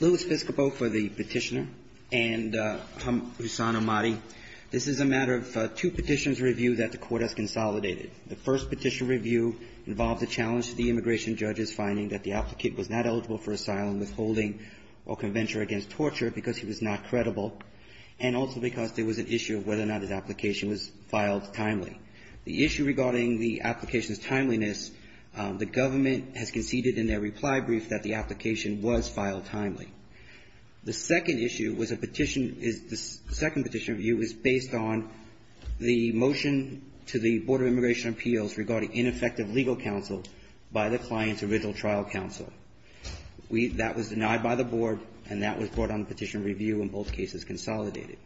Lewis Biscopo for the petitioner and Hussam Ahmadi. This is a matter of two petitions reviewed that the court has consolidated. The first petition review involved a challenge to the immigration judges finding that the applicant was not eligible for asylum, withholding or conventure against torture because he was not credible and also because there was an issue of whether or not his application was filed timely. The issue regarding the application's timeliness, the government has conceded in their reply brief that the application was filed timely. The second petition review was based on the motion to the Board of Immigration Appeals regarding ineffective legal counsel by the client's original trial counsel. That was denied by the board and that was brought on the petition review and both cases consolidated.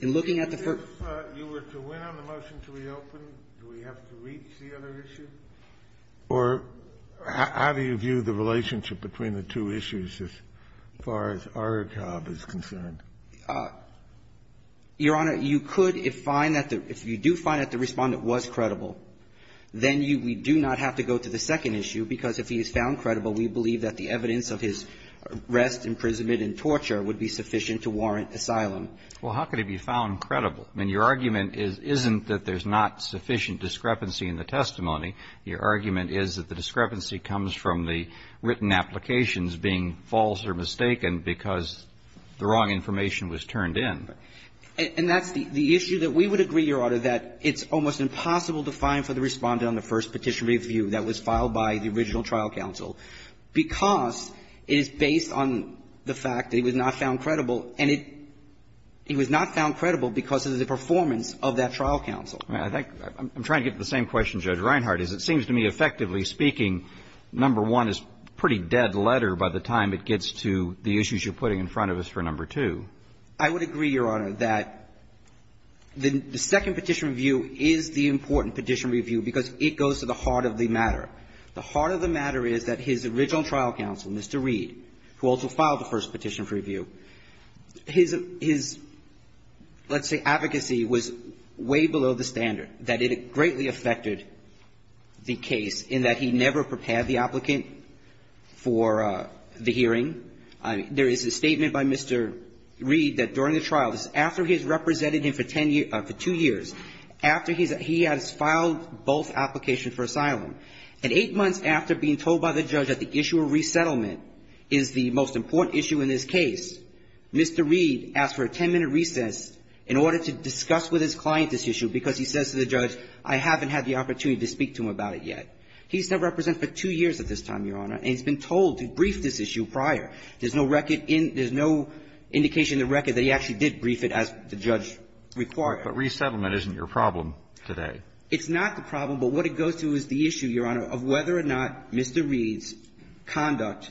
In looking at the first ---- Kennedy, if you were to win on the motion to reopen, do we have to reach the other issue? Or how do you view the relationship between the two issues as far as our job is concerned? Your Honor, you could if find that the ---- if you do find that the Respondent was credible, then you do not have to go to the second issue because if he is found credible, then your argument is, isn't that there's not sufficient discrepancy in the testimony, your argument is that the discrepancy comes from the written applications being false or mistaken because the wrong information was turned in. And that's the issue that we would agree, Your Honor, that it's almost impossible to find for the Respondent on the first petition review that was filed by the original trial counsel because it is based on the fact that he was not found credible and it ---- he was not found credible because of the performance of that trial counsel. I think ---- I'm trying to get to the same question, Judge Reinhart, is it seems to me, effectively speaking, number one is a pretty dead letter by the time it gets to the issues you're putting in front of us for number two. I would agree, Your Honor, that the second petition review is the important petition review because it goes to the heart of the matter. The heart of the matter is that his original trial counsel, Mr. Reed, who also filed the first petition review, his ---- his, let's say, advocacy was way below the standard, that it greatly affected the case in that he never prepared the applicant for the hearing. I mean, there is a statement by Mr. Reed that during the trial, this is after he has represented him for ten years ---- for two years, after he has filed both applications for asylum, and eight months after being told by the judge that the issue of resettlement is the most important issue in this case, Mr. Reed asked for a ten-minute recess in order to discuss with his client this issue because he says to the judge, I haven't had the opportunity to speak to him about it yet. He's been represented for two years at this time, Your Honor, and he's been told to brief this issue prior. There's no record in ---- there's no indication in the record that he actually did brief it as the judge required. But resettlement isn't your problem today. It's not the problem, but what it goes to is the issue, Your Honor, of whether or not Mr. Reed's conduct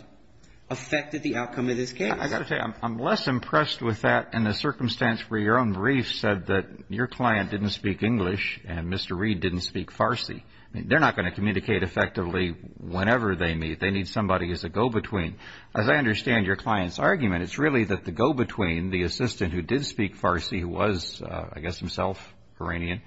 affected the outcome of this case. I got to tell you, I'm less impressed with that in the circumstance where your own brief said that your client didn't speak English and Mr. Reed didn't speak Farsi. They're not going to communicate effectively whenever they meet. They need somebody as a go-between. As I understand your client's argument, it's really that the go-between, the assistant who did speak Farsi, who was, I guess, himself Iranian,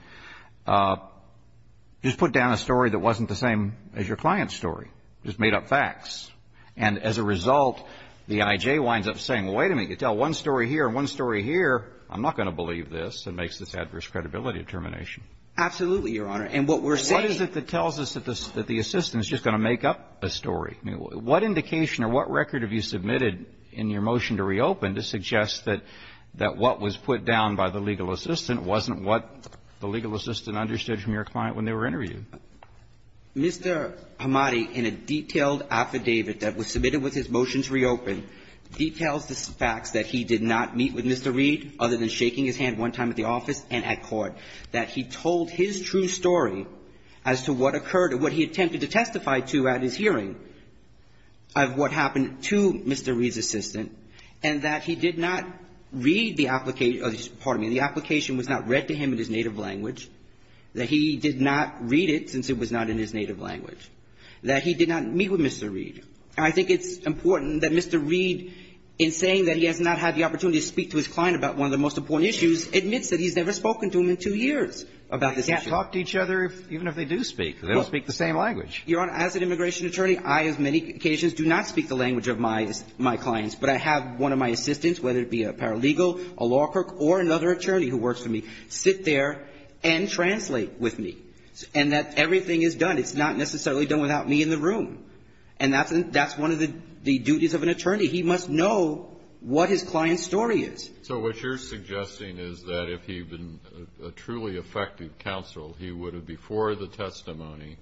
just put down a story that wasn't the same as your client's story, just made up facts. And as a result, the I.J. winds up saying, wait a minute, you tell one story here and one story here, I'm not going to believe this, and makes this adverse credibility determination. Absolutely, Your Honor. And what we're saying ---- What indication or what record have you submitted in your motion to reopen to suggest that what was put down by the legal assistant wasn't what the legal assistant understood from your client when they were interviewed? Mr. Hamadi, in a detailed affidavit that was submitted with his motion to reopen, details the facts that he did not meet with Mr. Reed other than shaking his hand one time at the office and at court, that he told his true story as to what occurred or what he attempted to testify to at his hearing of what happened to Mr. Reed's assistant, and that he did not read the application ---- pardon me, the application was not read to him in his native language, that he did not read it since it was not in his native language, that he did not meet with Mr. Reed. And I think it's important that Mr. Reed, in saying that he has not had the opportunity to speak to his client about one of the most important issues, admits that he's never spoken to him in two years about this issue. But they talk to each other even if they do speak. They don't speak the same language. Your Honor, as an immigration attorney, I, as many occasions, do not speak the language of my clients. But I have one of my assistants, whether it be a paralegal, a law clerk, or another attorney who works for me, sit there and translate with me. And that everything is done. It's not necessarily done without me in the room. And that's one of the duties of an attorney. He must know what his client's story is. So what you're suggesting is that if he had been a truly effective counsel, he would have, before the testimony,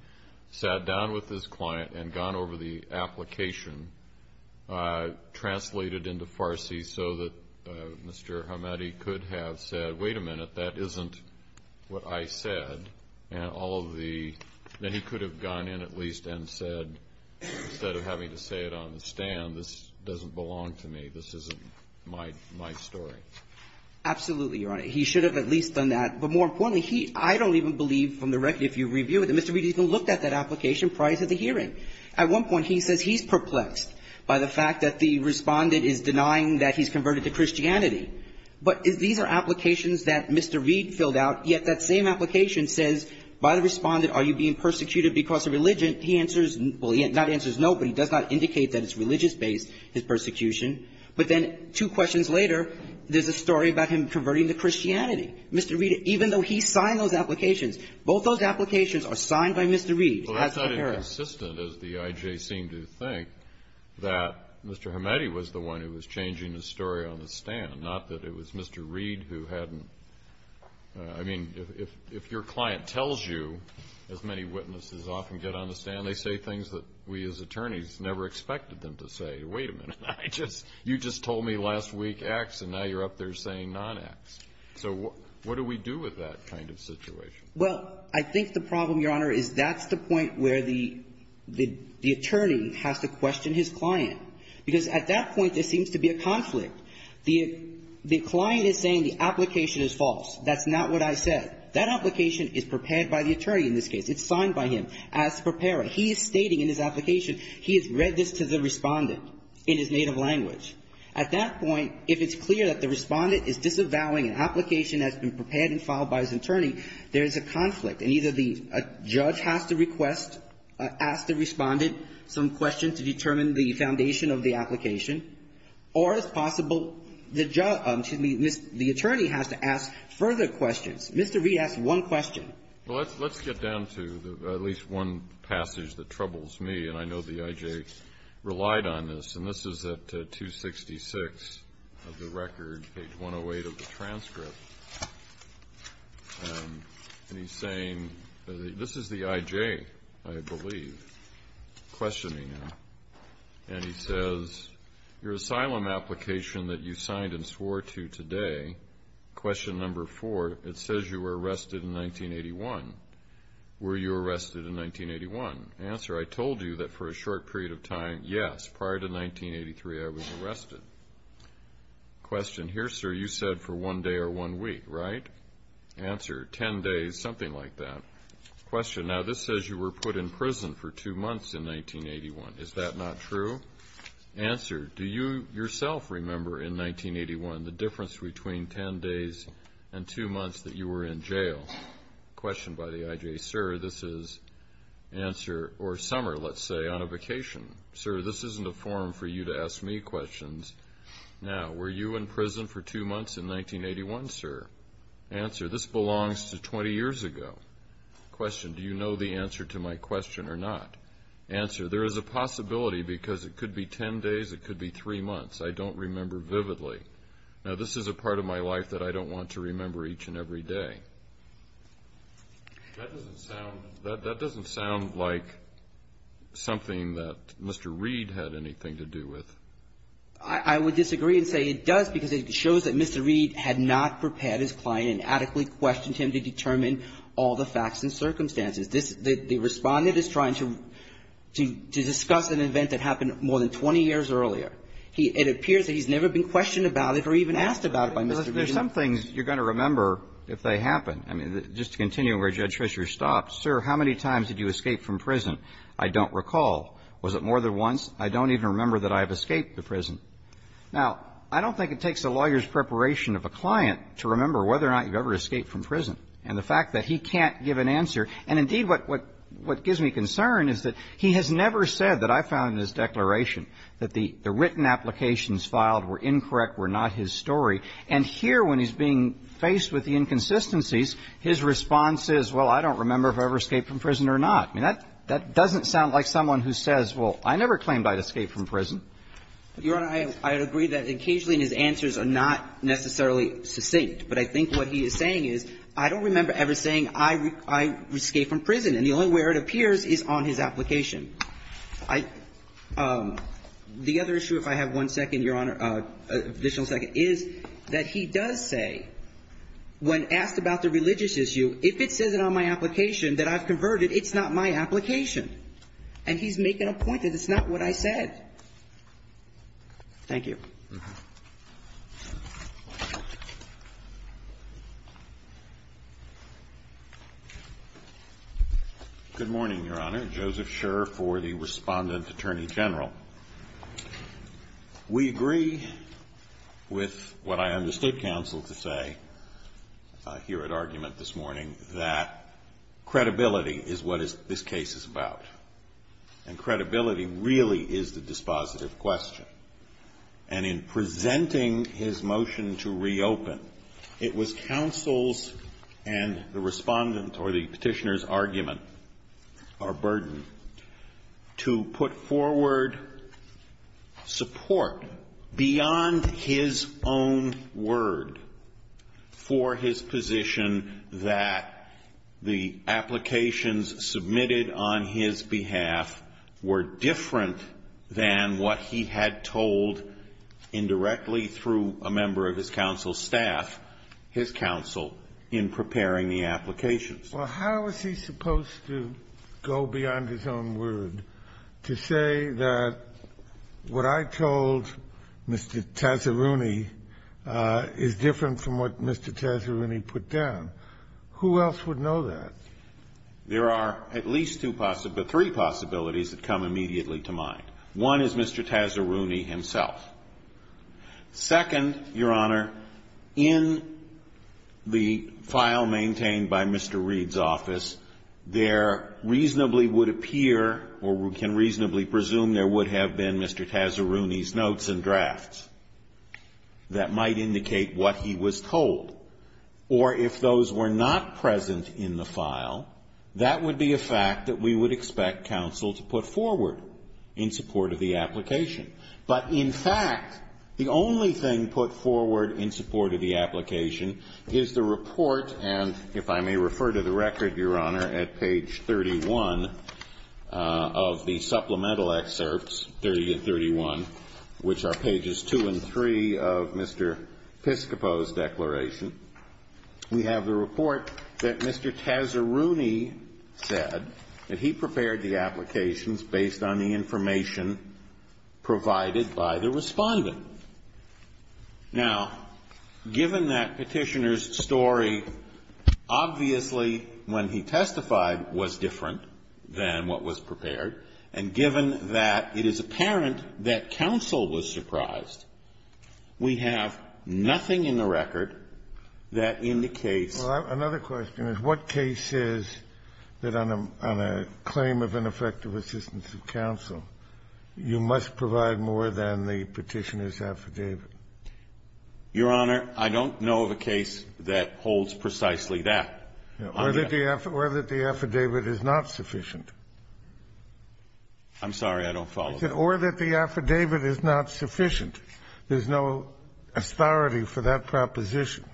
sat down with his client and gone over the application, translated into Farsi, so that Mr. Hamadi could have said, wait a minute, that isn't what I said. And all of the, then he could have gone in at least and said, instead of having to say it on the stand, this doesn't belong to me. This isn't my story. Absolutely, Your Honor. He should have at least done that. But more importantly, he, I don't even believe from the record, if you review it, that Mr. Reed even looked at that application prior to the hearing. At one point, he says he's perplexed by the fact that the Respondent is denying that he's converted to Christianity. But these are applications that Mr. Reed filled out, yet that same application says, by the Respondent, are you being persecuted because of religion? He answers, well, he not answers no, but he does not indicate that it's religious based, his persecution. But then two questions later, there's a story about him converting to Christianity. Mr. Reed, even though he signed those applications, both those applications are signed by Mr. Reed. Well, that's not inconsistent, as the I.J. seemed to think, that Mr. Hamadi was the one who was changing the story on the stand, not that it was Mr. Reed who hadn't. I mean, if your client tells you, as many witnesses often get on the stand, they say things that we as attorneys never expected them to say. Wait a minute. You just told me last week X, and now you're up there saying non-X. So what do we do with that kind of situation? Well, I think the problem, Your Honor, is that's the point where the attorney has to question his client, because at that point, there seems to be a conflict. The client is saying the application is false. That's not what I said. That application is prepared by the attorney in this case. It's signed by him. As the preparer, he is stating in his application, he has read this to the Respondent in his native language. At that point, if it's clear that the Respondent is disavowing an application that's been prepared and filed by his attorney, there is a conflict. And either the judge has to request, ask the Respondent some questions to determine the foundation of the application, or it's possible the judge, excuse me, the attorney has to ask further questions. Mr. Reed asked one question. Well, let's get down to at least one passage that troubles me, and I know the I.J. relied on this. And this is at 266 of the record, page 108 of the transcript. And he's saying, this is the I.J., I believe, questioning him. And he says, Your asylum application that you signed and swore to today, question number four, it says you were arrested in 1981. Were you arrested in 1981? Answer, I told you that for a short period of time, yes. Prior to 1983, I was arrested. Question here, sir, you said for one day or one week, right? Answer, 10 days, something like that. Question, now this says you were put in prison for two months in 1981. Is that not true? Answer, do you yourself remember in 1981 the difference between 10 days and two months that you were in jail? Question by the I.J., sir, this is, answer, or summer, let's say, on a vacation. Sir, this isn't a forum for you to ask me questions. Now, were you in prison for two months in 1981, sir? Answer, this belongs to 20 years ago. Question, do you know the answer to my question or not? Answer, there is a possibility because it could be 10 days, it could be three months. I don't remember vividly. Now, this is a part of my life that I don't want to remember each and every day. That doesn't sound like something that Mr. Reed had anything to do with. I would disagree and say it does because it shows that Mr. Reed had not prepared his client and adequately questioned him to determine all the facts and circumstances. The Respondent is trying to discuss an event that happened more than 20 years earlier. It appears that he's never been questioned about it or even asked about it by Mr. Reed. There's some things you're going to remember if they happen. I mean, just to continue where Judge Fischer stopped, sir, how many times did you escape from prison? I don't recall. Was it more than once? I don't even remember that I have escaped the prison. Now, I don't think it takes a lawyer's preparation of a client to remember whether or not you've ever escaped from prison. And the fact that he can't give an answer. And indeed, what gives me concern is that he has never said that I found in his declaration that the written applications filed were incorrect, were not his story. And here, when he's being faced with the inconsistencies, his response is, well, I don't remember if I've ever escaped from prison or not. I mean, that doesn't sound like someone who says, well, I never claimed I'd escaped from prison. Your Honor, I agree that occasionally his answers are not necessarily succinct. But I think what he is saying is, I don't remember ever saying I escaped from prison. And the only way it appears is on his application. The other issue, if I have one second, Your Honor, additional second, is that he does say, when asked about the religious issue, if it says it on my application that I've converted, it's not my application. And he's making a point that it's not what I said. Thank you. Good morning, Your Honor. Joseph Scherr for the Respondent Attorney General. We agree with what I understood counsel to say here at argument this morning, that credibility is what this case is about. And credibility really is the dispositive question. And it's not just a question of credibility. And in presenting his motion to reopen, it was counsel's and the Respondent's or the Petitioner's argument or burden to put forward support beyond his own word for his position that the applications submitted on his behalf were different than what he had told indirectly through a member of his counsel's staff, his counsel, in preparing the applications. Well, how is he supposed to go beyond his own word to say that what I told Mr. Tazzaruni is different from what Mr. Tazzaruni put down? Who else would know that? There are at least two possibilities, but three possibilities that come immediately to mind. One is Mr. Tazzaruni himself. Second, Your Honor, in the file maintained by Mr. Reed's office, there reasonably would appear or we can reasonably presume there would have been Mr. Tazzaruni's notes and drafts that might indicate what he was told. Or if those were not present in the file, that would be a fact that we would expect counsel to put forward in support of the application. But in fact, the only thing put forward in support of the application is the report and if I may refer to the record, Your Honor, at page 31 of the supplemental application, we have the report that Mr. Tazzaruni said that he prepared the applications based on the information provided by the respondent. Now, given that petitioner's story, obviously when he testified was different than what was prepared and given that it is apparent that counsel was surprised, we have nothing in the record that indicates that counsel was surprised. Another question is what case is that on a claim of ineffective assistance of counsel, you must provide more than the petitioner's affidavit? Your Honor, I don't know of a case that holds precisely that. Or that the affidavit is not sufficient. I'm sorry. I don't follow. Or that the affidavit is not sufficient. There's no authority for that proposition.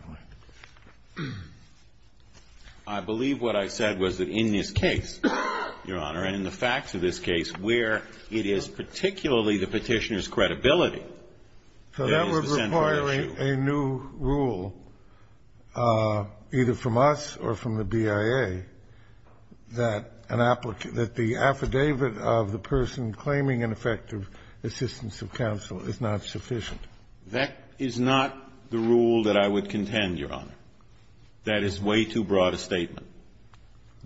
I believe what I said was that in this case, Your Honor, and in the facts of this case where it is particularly the petitioner's credibility, there is the central issue. So that would require a new rule, either from us or from the BIA, that an applicant that the affidavit of the person claiming ineffective assistance of counsel is not sufficient. That is not the rule that I would contend, Your Honor. That is way too broad a statement.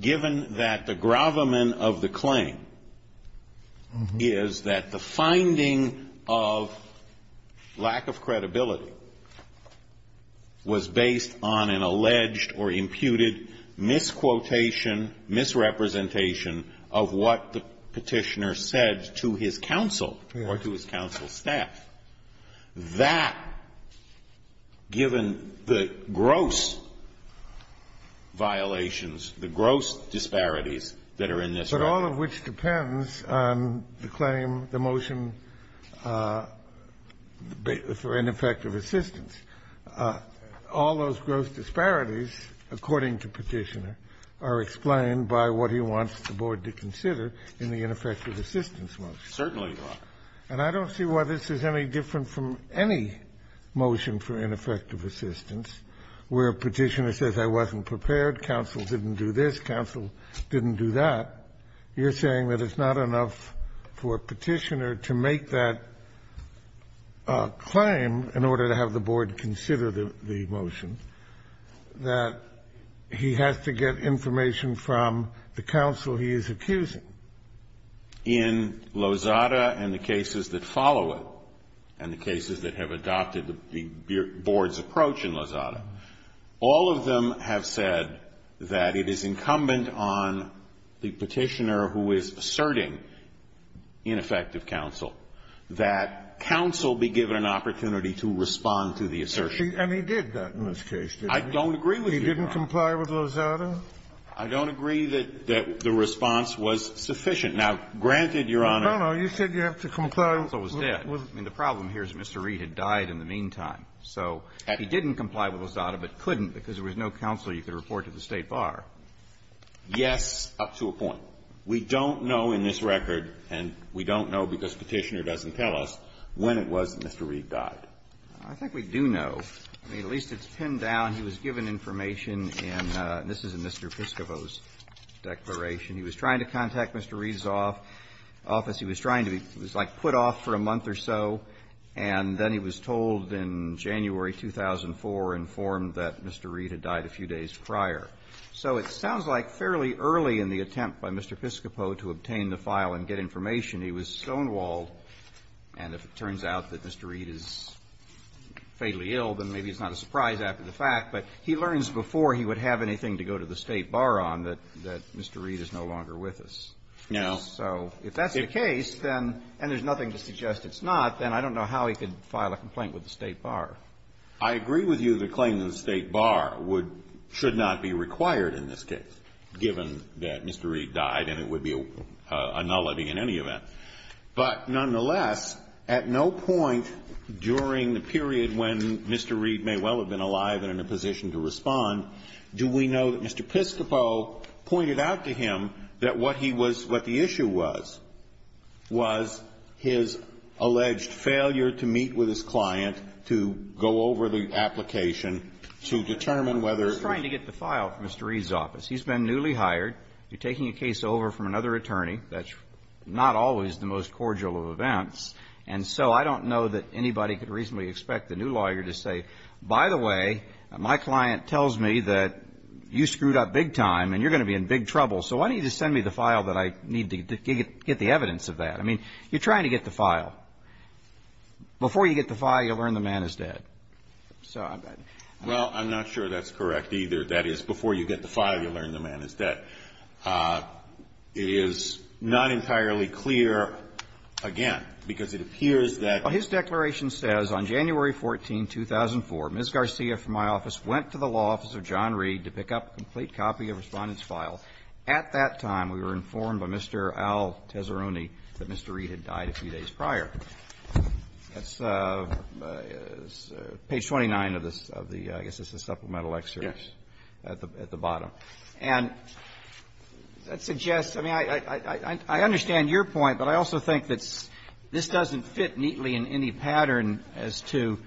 Given that the gravamen of the claim is that the finding of lack of credibility was based on an alleged or imputed misquotation, misrepresentation of what the petitioner said to his counsel or to his counsel's staff, that given the gross violations, the gross disparities that are in this record. But all of which depends on the claim, the motion for ineffective assistance. All those gross disparities, according to petitioner, are explained by what he wants the board to consider in the ineffective assistance motion. Certainly, Your Honor. And I don't see why this is any different from any motion for ineffective assistance where a petitioner says I wasn't prepared, counsel didn't do this, counsel didn't do that. You're saying that it's not enough for a petitioner to make that claim in order to have the board consider the motion, that he has to get information from the counsel he is accusing. In Lozada and the cases that follow it, and the cases that have adopted the board's approach in Lozada, all of them have said that it is incumbent on the petitioner who is asserting ineffective counsel that counsel be given an opportunity to respond to the assertion. And he did that in this case, didn't he? I don't agree with you, Your Honor. He didn't comply with Lozada? I don't agree that the response was sufficient. Now, granted, Your Honor. No, no. You said you have to comply. The counsel was dead. I mean, the problem here is Mr. Reed had died in the meantime. So he didn't comply with Lozada but couldn't because there was no counsel you could report to the State Bar. Yes, up to a point. We don't know in this record, and we don't know because Petitioner doesn't tell us, when it was that Mr. Reed died. I think we do know. I mean, at least it's pinned down. He was given information in Mr. Piscopo's declaration. He was trying to contact Mr. Reed's office. He was trying to be put off for a month or so. And then he was told in January 2004, informed that Mr. Reed had died a few days prior. So it sounds like fairly early in the attempt by Mr. Piscopo to obtain the file and get information, he was stonewalled. And if it turns out that Mr. Reed is fatally ill, then maybe it's not a surprise after the fact. But he learns before he would have anything to go to the State Bar on that Mr. Reed is no longer with us. No. So if that's the case, then, and there's nothing to suggest it's not, then I don't know how he could file a complaint with the State Bar. I agree with you that claiming the State Bar should not be required in this case, given that Mr. Reed died, and it would be a nullity in any event. But nonetheless, at no point during the period when Mr. Reed may well have been alive and in a position to respond do we know that Mr. Piscopo pointed out to him that what he was, what the issue was, was his alleged failure to meet with his client to go over the application to determine whether. He's trying to get the file from Mr. Reed's office. He's been newly hired. You're taking a case over from another attorney. That's not always the most cordial of events. And so I don't know that anybody could reasonably expect the new lawyer to say, by the way, my client tells me that you screwed up big time and you're going to be in big trouble. So why don't you just send me the file that I need to get the evidence of that? I mean, you're trying to get the file. Before you get the file, you learn the man is dead. So I'm not. Well, I'm not sure that's correct either. That is, before you get the file, you learn the man is dead. It is not entirely clear, again, because it appears that. His declaration says, on January 14, 2004, Ms. Garcia from my office went to the law office to get a copy of Respondent's file. At that time, we were informed by Mr. Al Tesseroni that Mr. Reed had died a few days prior. That's page 29 of the, I guess it's a supplemental excerpt. Yes. At the bottom. And that suggests, I mean, I understand your point, but I also think that this doesn't fit neatly in any pattern as to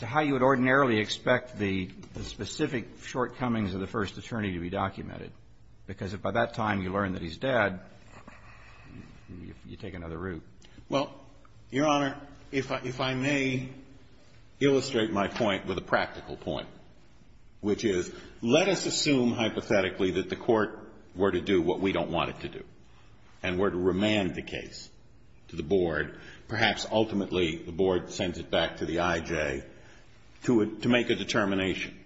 how you would ordinarily expect the specific shortcomings of the first attorney to be documented, because if by that time you learn that he's dead, you take another route. Well, Your Honor, if I may illustrate my point with a practical point, which is, let us assume hypothetically that the Court were to do what we don't want it to do and were to remand the case to the Board, perhaps ultimately the Board sends it back to the IJ, to make a determination.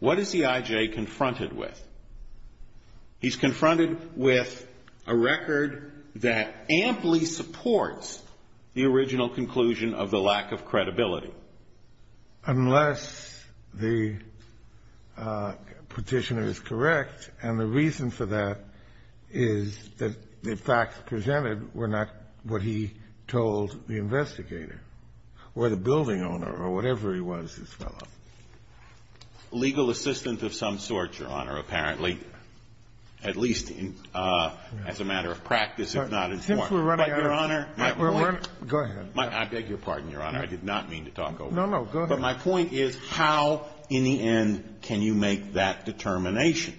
What is the IJ confronted with? He's confronted with a record that amply supports the original conclusion of the lack of credibility. Unless the petitioner is correct, and the reason for that is that the facts presented were not what he told the investigator or the building owner or whatever he was, this fellow. Legal assistant of some sort, Your Honor, apparently, at least as a matter of practice if not in form. Since we're running out of time, go ahead. I beg your pardon, Your Honor. I did not mean to talk over you. No, no. Go ahead. But my point is how, in the end, can you make that determination?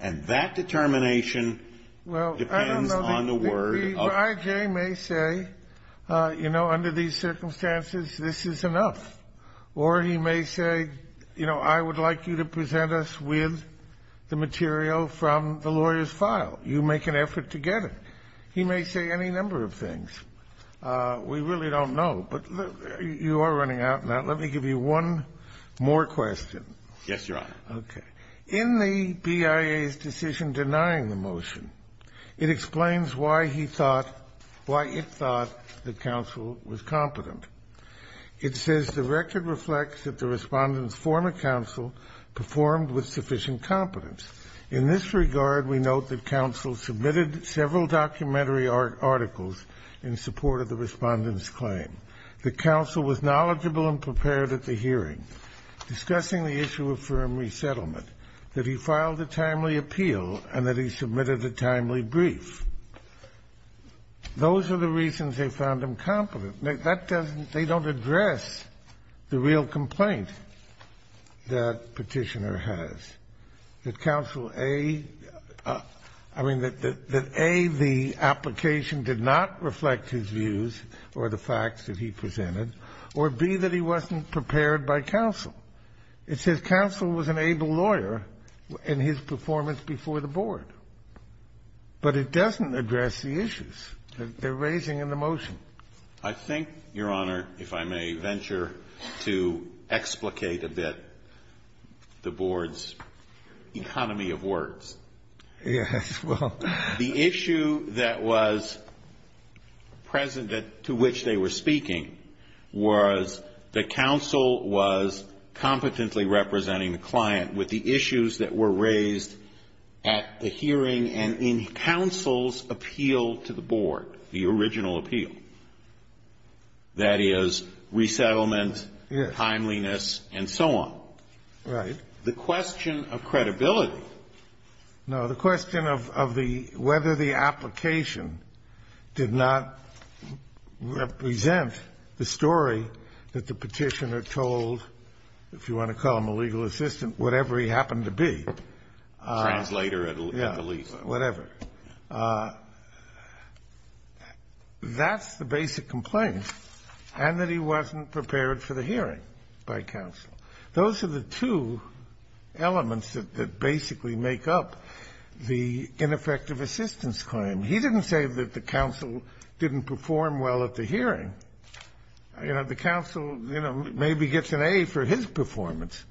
And that determination depends on the word of the judge. The IJ may say, you know, under these circumstances, this is enough. Or he may say, you know, I would like you to present us with the material from the lawyer's file. You make an effort to get it. He may say any number of things. We really don't know. But you are running out now. Let me give you one more question. Yes, Your Honor. Okay. In the BIA's decision denying the motion, it explains why he thought, why it thought the counsel was competent. It says the record reflects that the Respondent's former counsel performed with sufficient competence. In this regard, we note that counsel submitted several documentary articles in support of the Respondent's claim. The counsel was knowledgeable and prepared at the hearing, discussing the issue of firm resettlement, that he filed a timely appeal, and that he submitted a timely brief. Those are the reasons they found him competent. That doesn't, they don't address the real complaint that Petitioner has. That counsel A, I mean, that A, the application did not reflect his views or the facts that he presented, or B, that he wasn't prepared by counsel. It says counsel was an able lawyer in his performance before the Board. But it doesn't address the issues that they're raising in the motion. I think, Your Honor, if I may venture to explicate a bit the Board's economy of words. Yes, well. The issue that was present to which they were speaking was that counsel was competently representing the client with the issues that were raised at the hearing and in counsel's appeal to the Board, the original appeal. That is, resettlement, timeliness, and so on. Right. The question of credibility. No, the question of the, whether the application did not represent the story that the Petitioner told, if you want to call him a legal assistant, whatever he happened to be. Translator at the least. Yeah, whatever. That's the basic complaint, and that he wasn't prepared for the hearing by counsel. Those are the two elements that basically make up the ineffective assistance claim. He didn't say that the counsel didn't perform well at the hearing. You know, the counsel, you know, maybe gets an A for his performance,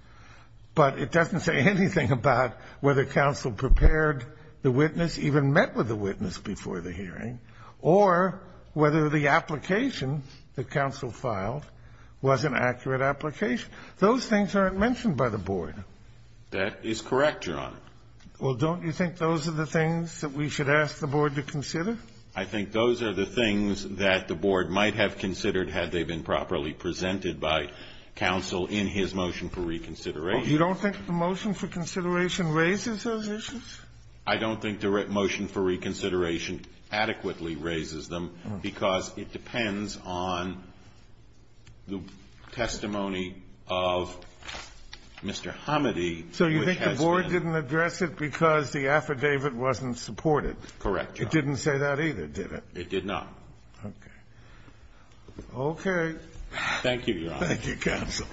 but it doesn't say anything about whether counsel prepared the witness, even met with the witness before the hearing, or whether the application that counsel filed was an accurate application. Those things aren't mentioned by the Board. That is correct, Your Honor. Well, don't you think those are the things that we should ask the Board to consider? I think those are the things that the Board might have considered had they been properly presented by counsel in his motion for reconsideration. You don't think the motion for consideration raises those issues? I don't think the motion for reconsideration adequately raises them, because it depends on the testimony of Mr. Hamady. So you think the Board didn't address it because the affidavit wasn't supported? Correct, Your Honor. It didn't say that either, did it? It did not. Okay. Okay. Thank you, Your Honor. Thank you, counsel.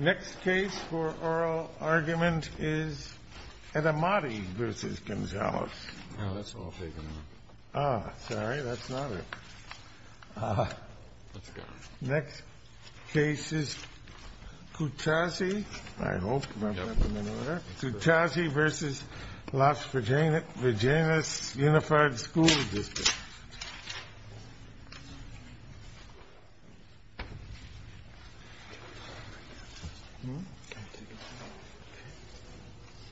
Next case for oral argument is Edamati v. Gonzales. No, that's all taken out. Oh, sorry. That's not it. Let's go. Next case is Kutazi. I hope that's not in the order. Kutazi v. Las Vaginas Unified School District. Thank you, Your Honor.